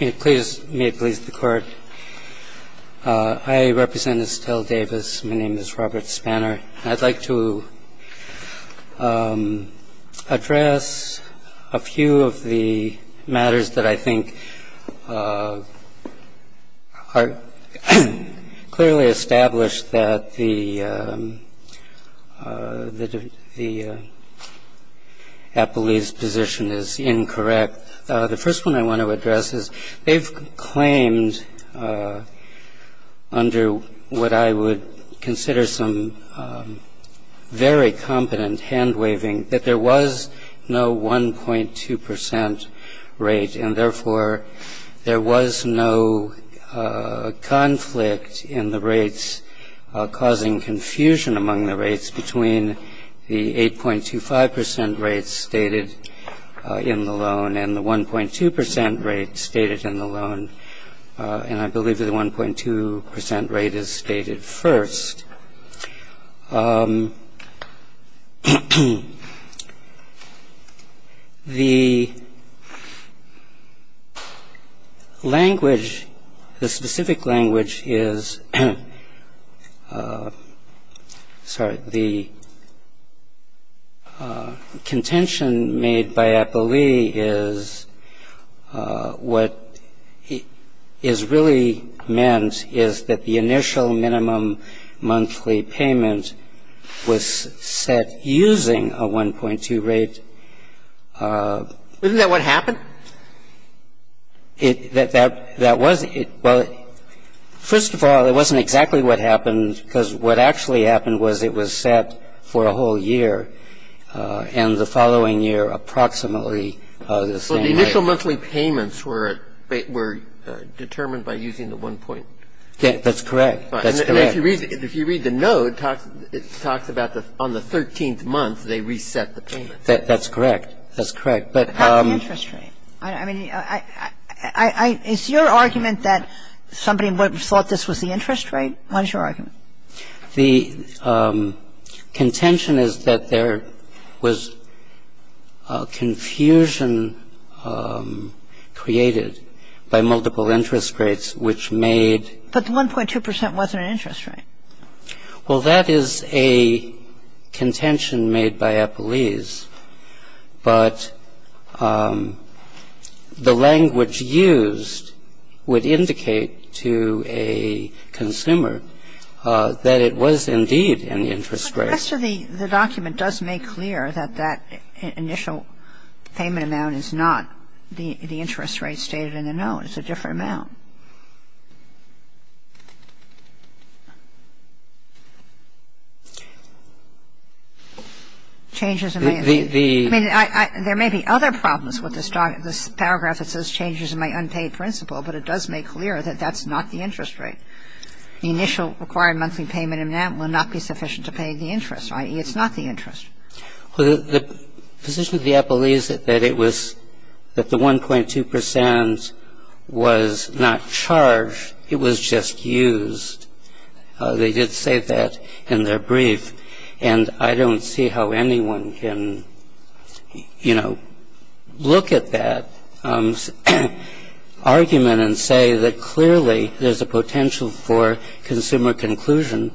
May it please the Court, I represent Estell Davis, my name is Robert Spanner. I'd like to address a few of the matters that I think are clearly established that the appellee's position is incorrect. The first one I want to address is they've claimed under what I would consider some very competent hand-waving that there was no 1.2 percent rate, and therefore there was no conflict in the rates causing confusion among the rates between the 8.25 percent rates stated in the loan and the 1.2 percent rate stated in the loan, and I believe that the 1.2 percent rate is stated first. The language, the specific language is, sorry, the contention made by appellee is what is really meant is that the initial minimum monthly pay payment was set using a 1.2 rate. Isn't that what happened? That was it. Well, first of all, it wasn't exactly what happened, because what actually happened was it was set for a whole year, and the following year approximately the same rate. So the initial monthly payments were determined by using the 1.2 rate. That's correct. And if you read the note, it talks about on the 13th month they reset the payments. That's correct. That's correct. But what about the interest rate? I mean, is your argument that somebody thought this was the interest rate? What is your argument? The contention is that there was confusion created by multiple interest rates, which made the 1.2 percent rate. So it wasn't an interest rate. Well, that is a contention made by appellees, but the language used would indicate to a consumer that it was indeed an interest rate. But the rest of the document does make clear that that initial payment amount is not the interest rate stated in the note. It's a different amount. I mean, there may be other problems with this paragraph that says changes in my unpaid principal, but it does make clear that that's not the interest rate. The initial required monthly payment amount will not be sufficient to pay the interest, The position of the appellee is that it was that the 1.2 percent was not charged. It was just used. They did say that in their brief, and I don't see how anyone can, you know, look at that argument and say that clearly there's a potential for consumer conclusion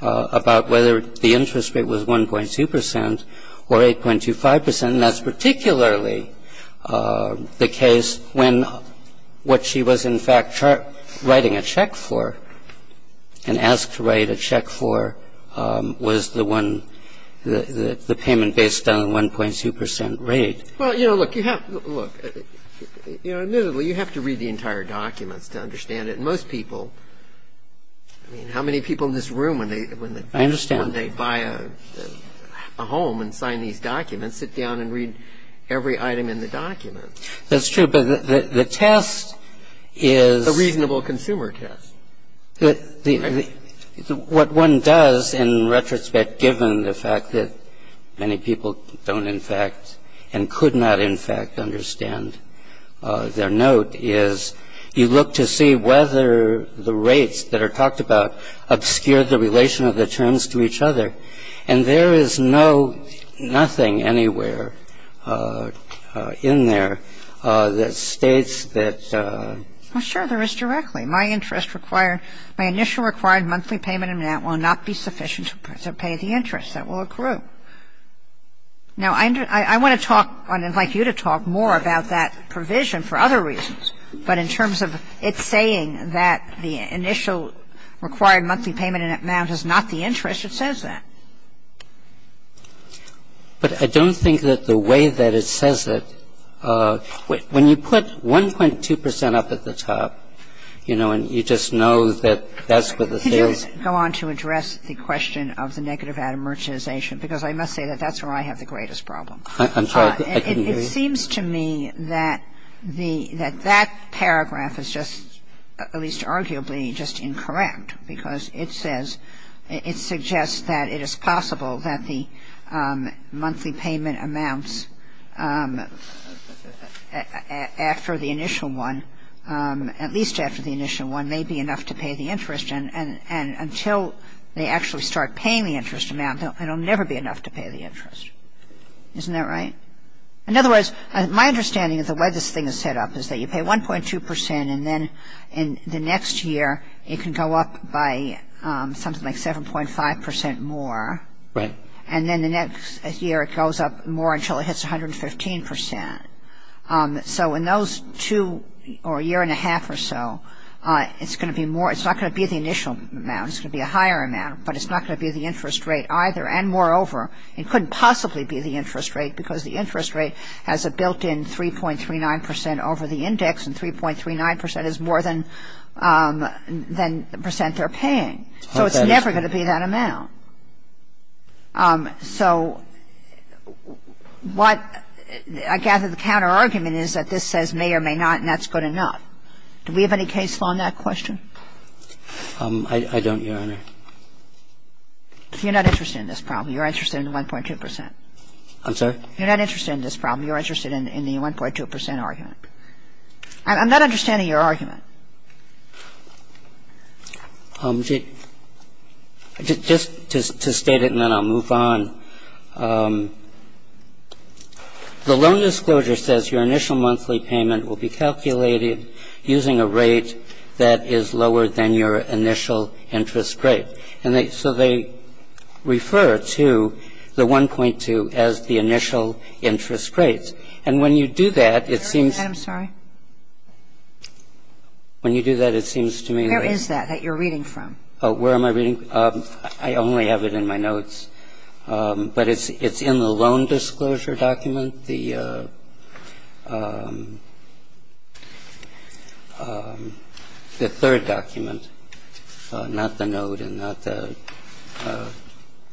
about whether the interest rate was 1.2 percent or 8.25 percent. And that's particularly the case when what she was, in fact, writing a check for and asked to write a check for was the one, the payment based on the 1.2 percent rate. Well, you know, look, you have to read the entire documents to understand it. And most people, I mean, how many people in this room when they buy a home and sign these documents sit down and read every item in the document? That's true, but the test is the reasonable consumer test. What one does, in retrospect, given the fact that many people don't, in fact, and could not, in fact, understand their note is you look to see whether the rates that are talked about obscure the relation of the terms to each other. And there is no, nothing anywhere in there that states that. Well, sure, there is directly. My interest required, my initial required monthly payment amount will not be sufficient to pay the interest that will accrue. Now, I want to talk, I'd like you to talk more about that provision for other reasons. But in terms of it saying that the initial required monthly payment amount is not the interest, it says that. But I don't think that the way that it says it, when you put 1.2 percent up at the top, you know, and you just know that that's what the sales are. Could you just go on to address the question of the negative atom merchantization? Because I must say that that's where I have the greatest problem. I'm sorry, I didn't hear you. It seems to me that the, that that paragraph is just, at least arguably, just incorrect because it says, it suggests that it is possible that the monthly payment amounts after the initial one, at least after the initial one, may be enough to pay the interest. And until they actually start paying the interest amount, it will never be enough to pay the interest. Isn't that right? In other words, my understanding of the way this thing is set up is that you pay 1.2 percent and the next year it can go up by something like 7.5 percent more. Right. And then the next year it goes up more until it hits 115 percent. So in those two, or a year and a half or so, it's going to be more, it's not going to be the initial amount, it's going to be a higher amount, but it's not going to be the interest rate either. And moreover, it couldn't possibly be the interest rate because the interest rate has a built-in 3.39 percent over the index and 3.39 percent is more than the percent they're paying. So it's never going to be that amount. So what I gather the counterargument is that this says may or may not and that's good enough. Do we have any case law on that question? I don't, Your Honor. You're not interested in this problem. You're interested in the 1.2 percent. I'm sorry? You're not interested in this problem. You're interested in the 1.2 percent argument. I'm not understanding your argument. Just to state it and then I'll move on. The loan disclosure says your initial monthly payment will be calculated using a rate that is lower than your initial interest rate. And so they refer to the 1.2 as the initial interest rate. And when you do that, it seems to me like. Where is that that you're reading from? Where am I reading? I only have it in my notes. But it's in the loan disclosure document, the third document, not the note in that.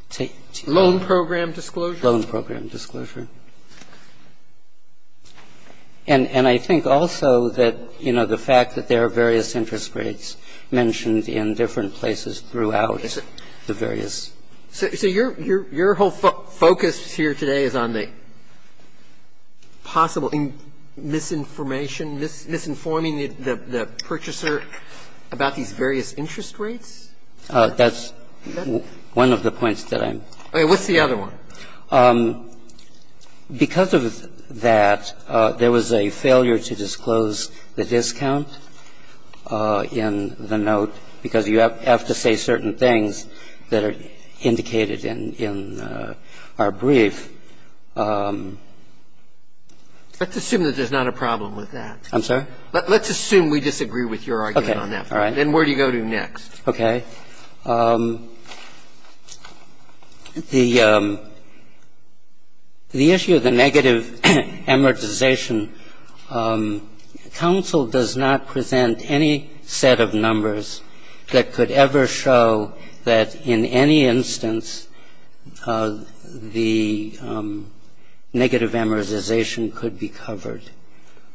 The loan program disclosure. Loan program disclosure. And I think also that, you know, the fact that there are various interest rates mentioned in different places throughout the various. So your whole focus here today is on the possible misinformation, misinforming the purchaser about these various interest rates? That's one of the points that I'm. What's the other one? Because of that, there was a failure to disclose the discount in the note because you have to say certain things that are indicated in our brief. Let's assume that there's not a problem with that. I'm sorry? Let's assume we disagree with your argument on that. All right. Then where do you go to next? Okay. The issue of the negative amortization. Counsel does not present any set of numbers that could ever show that in any instance the negative amortization could be covered.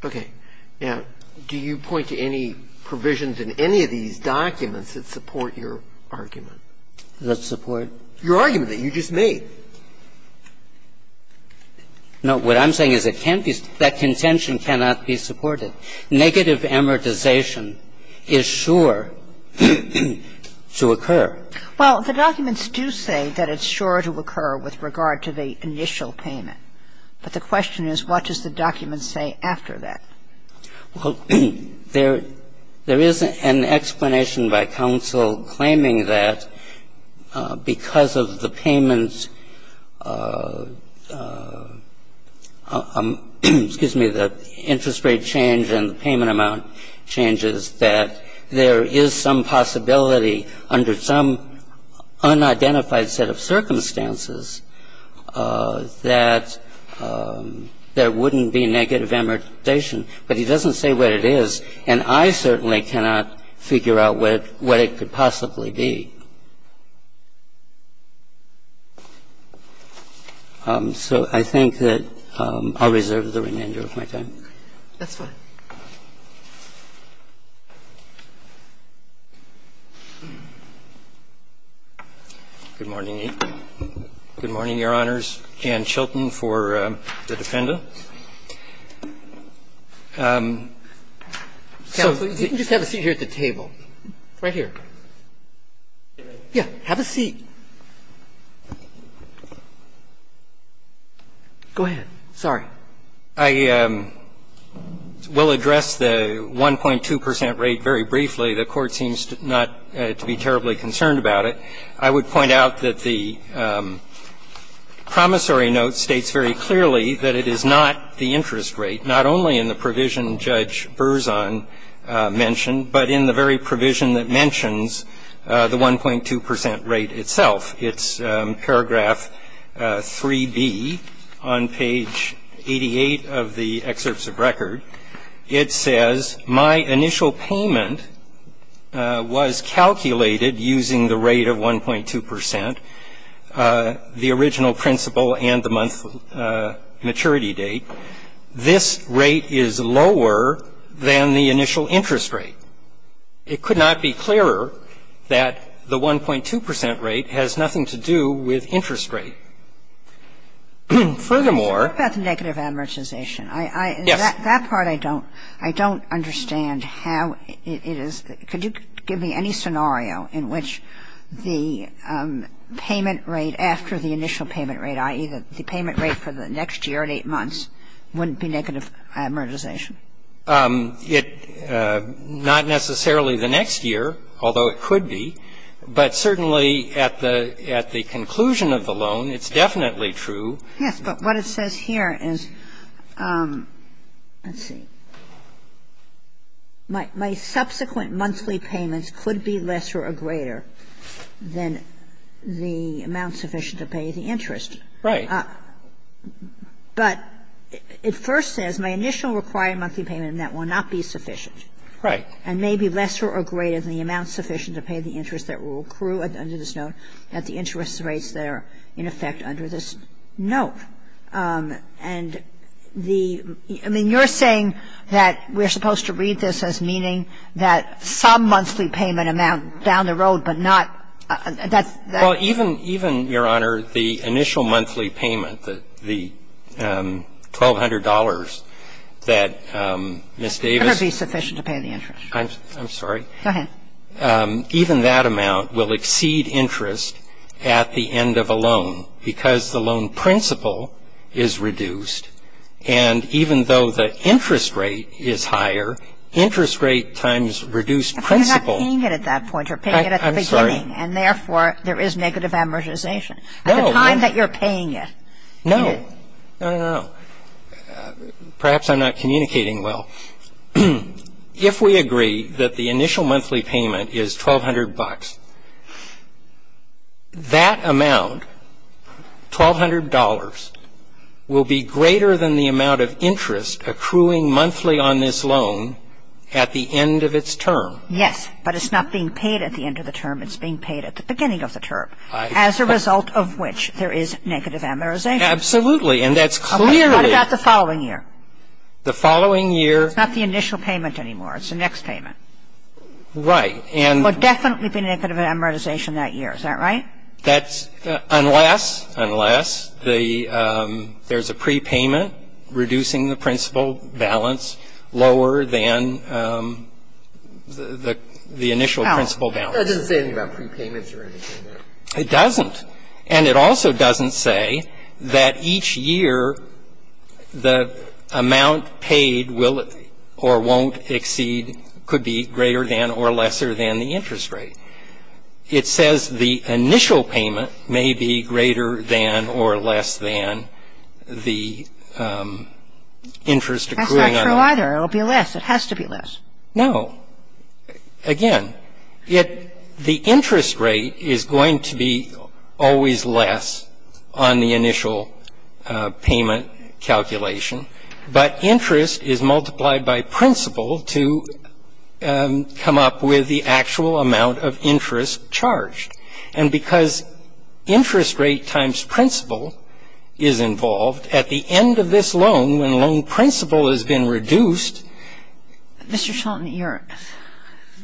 Okay. Now, do you point to any provisions in any of these documents that support your argument? That support? Your argument that you just made. No. What I'm saying is it can't be that contention cannot be supported. Negative amortization is sure to occur. Well, the documents do say that it's sure to occur with regard to the initial payment. But the question is what does the document say after that? Well, there is an explanation by counsel claiming that because of the payment of the interest rate change and the payment amount changes that there is some possibility under some unidentified set of circumstances that there wouldn't be negative amortization. But he doesn't say what it is. And I certainly cannot figure out what it could possibly be. So I think that I'll reserve the remainder of my time. That's fine. Thank you. Good morning. Good morning, Your Honors. Jan Chilton for the defendant. Counsel, you can just have a seat here at the table. Right here. Yeah. Have a seat. Go ahead. Sorry. I will address the 1.2 percent rate very briefly. The Court seems not to be terribly concerned about it. I would point out that the promissory note states very clearly that it is not the interest rate, not only in the provision Judge Berzon mentioned, but in the very provision that mentions the 1.2 percent rate itself. It's paragraph 3B on page 88 of the excerpts of record. It says, My initial payment was calculated using the rate of 1.2 percent, the original principle and the month maturity date. This rate is lower than the initial interest rate. It could not be clearer that the 1.2 percent rate has nothing to do with interest rate. Furthermore ---- But I heard about the negative amortization. Yes. That part I don't understand how it is. Could you give me any scenario in which the payment rate after the initial payment rate, i.e., the payment rate for the next year at 8 months, wouldn't be negative amortization? Not necessarily the next year, although it could be. But certainly at the conclusion of the loan, it's definitely true. Yes. But what it says here is, let's see, my subsequent monthly payments could be lesser or greater than the amount sufficient to pay the interest. Right. But it first says, my initial required monthly payment net will not be sufficient. Right. And may be lesser or greater than the amount sufficient to pay the interest that will accrue under this note at the interest rates that are in effect under this note. And the ---- I mean, you're saying that we're supposed to read this as meaning that some monthly payment amount down the road, but not that's ---- Well, even, Your Honor, the initial monthly payment, the $1,200 that Ms. Davis ---- It would be sufficient to pay the interest. I'm sorry. Go ahead. Even that amount will exceed interest at the end of a loan because the loan principle is reduced. And even though the interest rate is higher, interest rate times reduced principle ---- You're not paying it at that point. You're paying it at the beginning. And therefore, there is negative amortization. No. At the time that you're paying it. No. No, no, no. Perhaps I'm not communicating well. If we agree that the initial monthly payment is $1,200, that amount, $1,200, will be greater than the amount of interest accruing monthly on this loan at the end of its term. Yes. But it's not being paid at the end of the term. It's being paid at the beginning of the term, as a result of which there is negative amortization. Absolutely. And that's clearly ---- What about the following year? The following year ---- It's not the initial payment anymore. It's the next payment. Right. And ---- There will definitely be negative amortization that year. Is that right? That's unless, unless there's a prepayment reducing the principal balance lower than the initial principal balance. It doesn't say anything about prepayments or anything. It doesn't. And it also doesn't say that each year the amount paid will or won't exceed, could be greater than or lesser than the interest rate. It says the initial payment may be greater than or less than the interest accruing ---- That's not true either. It will be less. It has to be less. No. Again, the interest rate is going to be always less on the initial payment calculation. But interest is multiplied by principal to come up with the actual amount of interest charged. And because interest rate times principal is involved, at the end of this loan, when loan principal has been reduced ---- Mr. Shelton,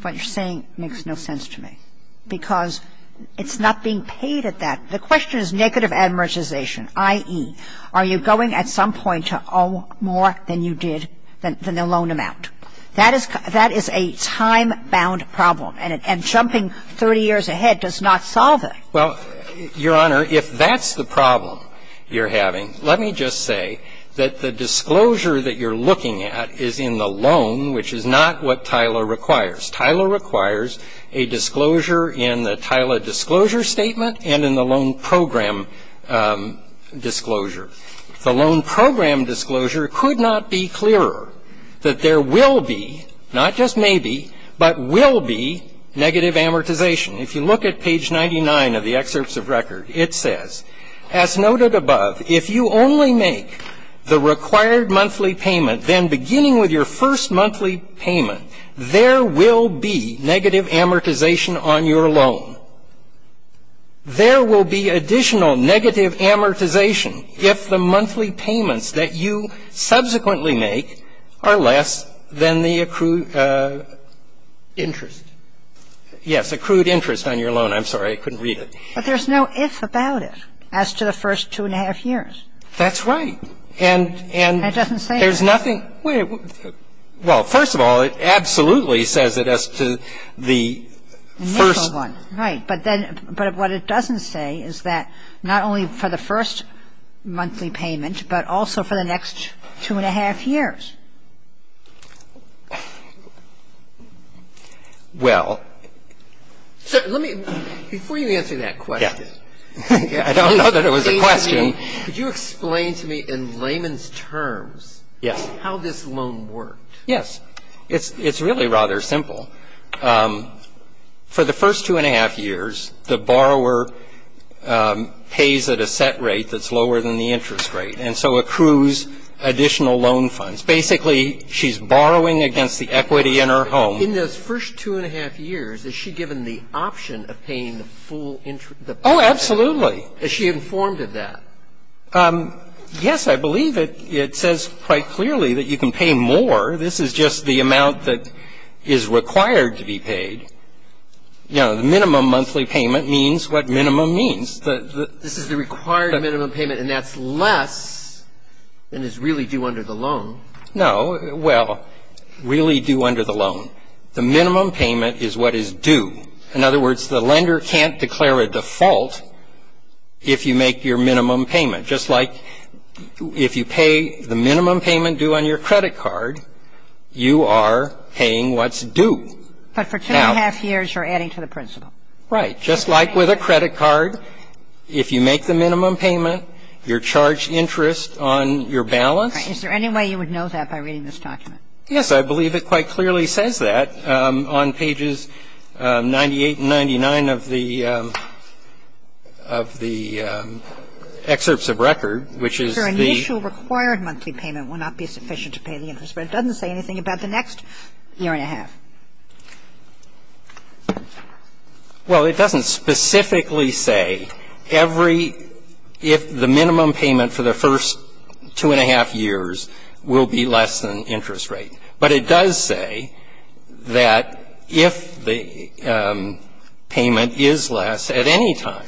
what you're saying makes no sense to me because it's not being paid at that. The question is negative amortization, i.e., are you going at some point to owe more than you did than the loan amount? That is a time-bound problem. And jumping 30 years ahead does not solve it. Well, Your Honor, if that's the problem you're having, let me just say that the disclosure that you're looking at is in the loan, which is not what TILA requires. TILA requires a disclosure in the TILA disclosure statement and in the loan program disclosure. The loan program disclosure could not be clearer that there will be, not just maybe, but will be negative amortization. If you look at page 99 of the excerpts of record, it says, As noted above, if you only make the required monthly payment, then beginning with your first monthly payment, there will be negative amortization on your loan. There will be additional negative amortization if the monthly payments that you subsequently make are less than the accrued interest. Yes, accrued interest on your loan. I'm sorry, I couldn't read it. But there's no if about it as to the first two and a half years. That's right. And there's nothing. Well, first of all, it absolutely says it as to the first. Right. But then what it doesn't say is that not only for the first monthly payment, but also for the next two and a half years. Well. Let me, before you answer that question. I don't know that it was a question. Could you explain to me in layman's terms how this loan worked? Yes. It's really rather simple. For the first two and a half years, the borrower pays at a set rate that's lower than the interest rate and so accrues additional loan funds. Basically, she's borrowing against the equity in her home. In those first two and a half years, is she given the option of paying the full interest? Oh, absolutely. Is she informed of that? Yes, I believe it. It says quite clearly that you can pay more. This is just the amount that is required to be paid. You know, the minimum monthly payment means what minimum means. This is the required minimum payment, and that's less than is really due under the loan. No. Well, really due under the loan. The minimum payment is what is due. In other words, the lender can't declare a default if you make your minimum payment. Just like if you pay the minimum payment due on your credit card, you are paying what's due. But for two and a half years, you're adding to the principal. Right. Just like with a credit card, if you make the minimum payment, you're charged interest on your balance. Is there any way you would know that by reading this document? Yes, I believe it quite clearly says that on pages 98 and 99 of the excerpts of record, which is the Your initial required monthly payment will not be sufficient to pay the interest rate. It doesn't say anything about the next year and a half. Well, it doesn't specifically say every if the minimum payment for the first two and a half years will be less than interest rate. But it does say that if the payment is less at any time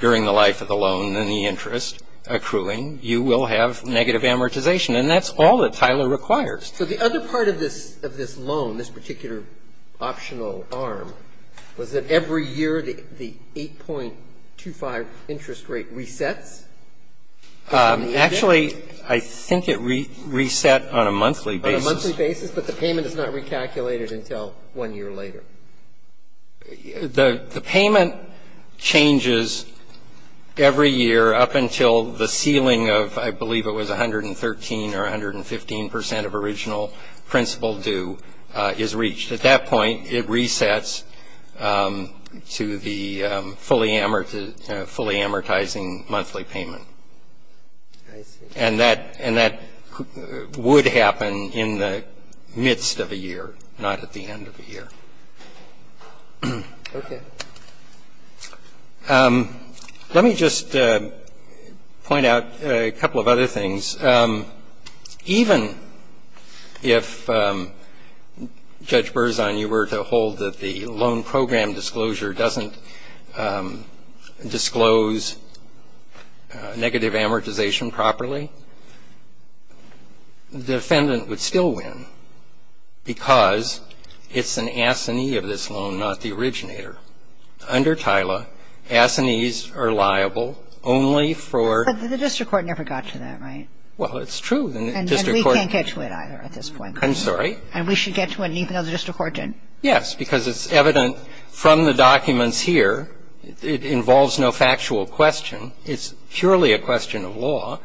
during the life of the loan than the interest accruing, you will have negative amortization. And that's all that Tyler requires. So the other part of this loan, this particular optional arm, was that every year the 8.25 interest rate resets? Actually, I think it reset on a monthly basis. On a monthly basis, but the payment is not recalculated until one year later. The payment changes every year up until the ceiling of I believe it was 113 or 115 percent of original principal due is reached. At that point, it resets to the fully amortizing monthly payment. I see. And that would happen in the midst of a year, not at the end of a year. Okay. Let me just point out a couple of other things. Even if Judge Berzon, you were to hold that the loan program disclosure doesn't disclose negative amortization properly, the defendant would still win because it's an assignee of this loan, not the originator. Under Tyler, assignees are liable only for the district court never got to that, right? Well, it's true. And we can't get to it either at this point. I'm sorry? And we should get to it even though the district court didn't. Yes, because it's evident from the documents here, it involves no factual question. It's purely a question of law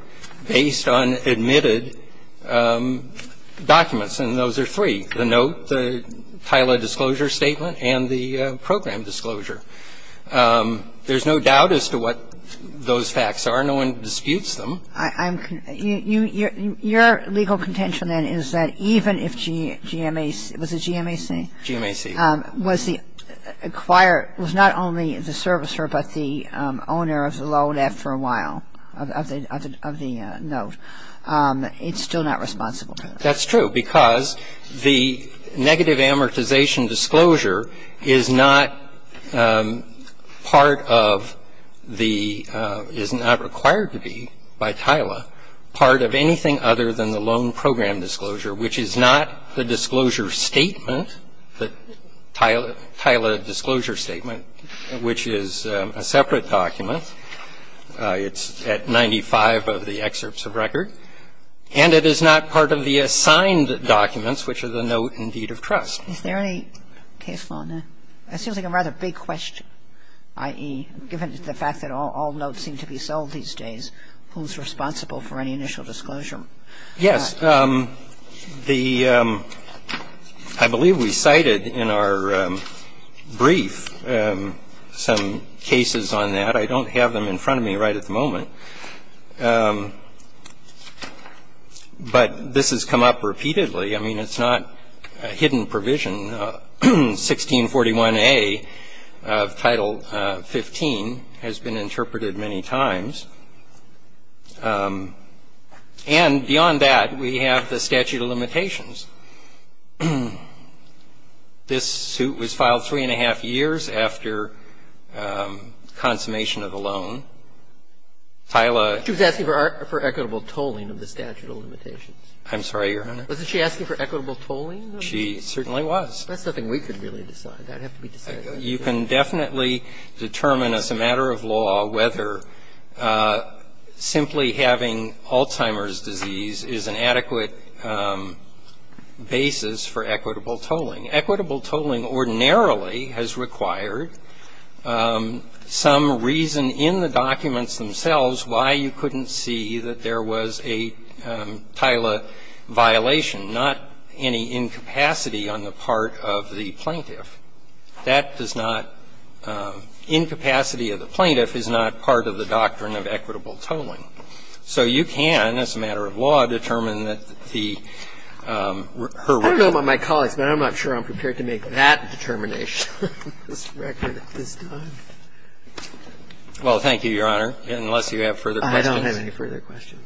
based on admitted documents, and those are three, the note, the Tyler disclosure statement, and the program disclosure. There's no doubt as to what those facts are. No one disputes them. Your legal contention then is that even if GMAC, was it GMAC? GMAC. Was the acquirer, was not only the servicer but the owner of the loan after a while, of the note, it's still not responsible. That's true because the negative amortization disclosure is not part of the, is not required to be by Tyler part of anything other than the loan program disclosure, which is not the disclosure statement, the Tyler disclosure statement, which is a separate document. It's at 95 of the excerpts of record. And it is not part of the assigned documents, which are the note and deed of trust. Is there any case law on that? It seems like a rather big question, i.e., given the fact that all notes seem to be sold these days, who's responsible for any initial disclosure? Yes. The, I believe we cited in our brief some cases on that. I don't have them in front of me right at the moment. But this has come up repeatedly. I mean, it's not a hidden provision. 1641A of Title 15 has been interpreted many times. And beyond that, we have the statute of limitations. This suit was filed three and a half years after consummation of the loan. Tyler ---- She was asking for equitable tolling of the statute of limitations. I'm sorry, Your Honor. Wasn't she asking for equitable tolling? She certainly was. That's nothing we could really decide. That would have to be decided. You can definitely determine as a matter of law whether simply having Alzheimer's disease is an adequate basis for equitable tolling. Equitable tolling ordinarily has required some reason in the documents themselves why you couldn't see that there was a Tyler violation, not any incapacity on the part of the plaintiff. That does not ---- incapacity of the plaintiff is not part of the doctrine of equitable tolling. So you can, as a matter of law, determine that the ---- I don't know about my colleagues, but I'm not sure I'm prepared to make that determination on this record at this time. Well, thank you, Your Honor, unless you have further questions. I don't have any further questions.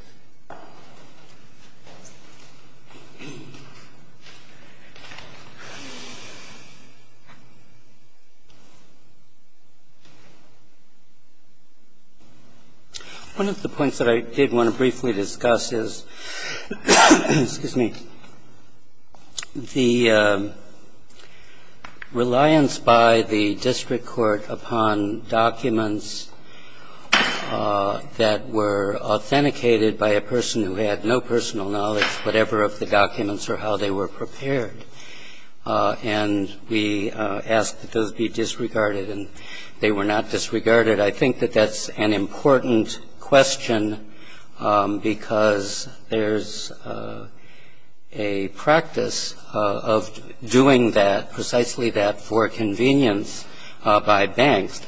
One of the points that I did want to briefly discuss is, excuse me, the reliance by the district court upon documents that were authenticated by a person who had no personal knowledge, whatever of the documents or how they were prepared. And we asked that those be disregarded, and they were not disregarded. I think that that's an important question because there's a practice of doing that, and it's not a practice of the district court to do that. It's a practice of the district court to do that. And it's precisely that for convenience by banks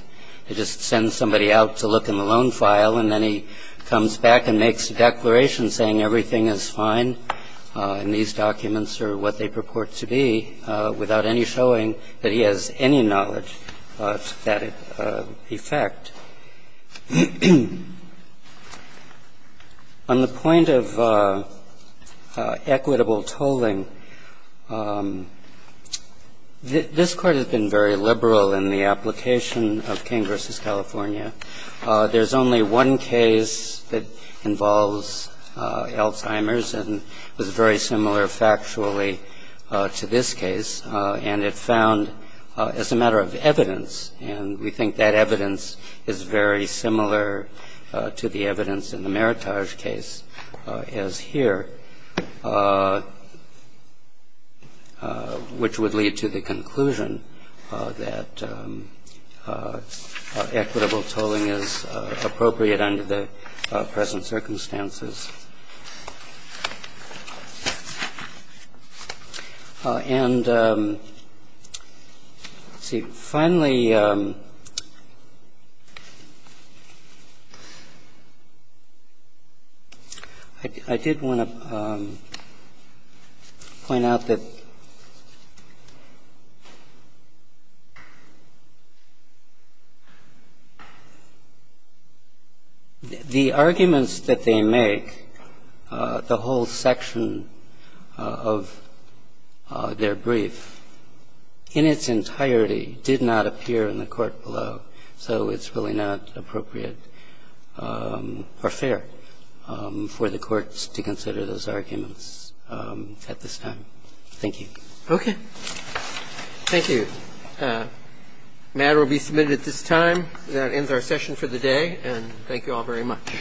to just send somebody out to look in the loan file and then he comes back and makes a declaration saying everything is fine and these documents are what they purport to be without any showing that he has any knowledge of that effect. On the point of equitable tolling, this Court has been very liberal in the application of King v. California. There's only one case that involves Alzheimer's and was very similar factually to this case, and it found, as a matter of evidence, and we think that evidence is very important is very similar to the evidence in the Meritage case as here, which would lead to the conclusion that equitable tolling is appropriate under the present circumstances. And, let's see, finally, I did want to point out that the arguments that they make the whole section of their brief in its entirety did not appear in the court below, so it's really not appropriate or fair for the courts to consider those arguments at this time. Thank you. Okay. Thank you. The matter will be submitted at this time. That ends our session for the day, and thank you all very much.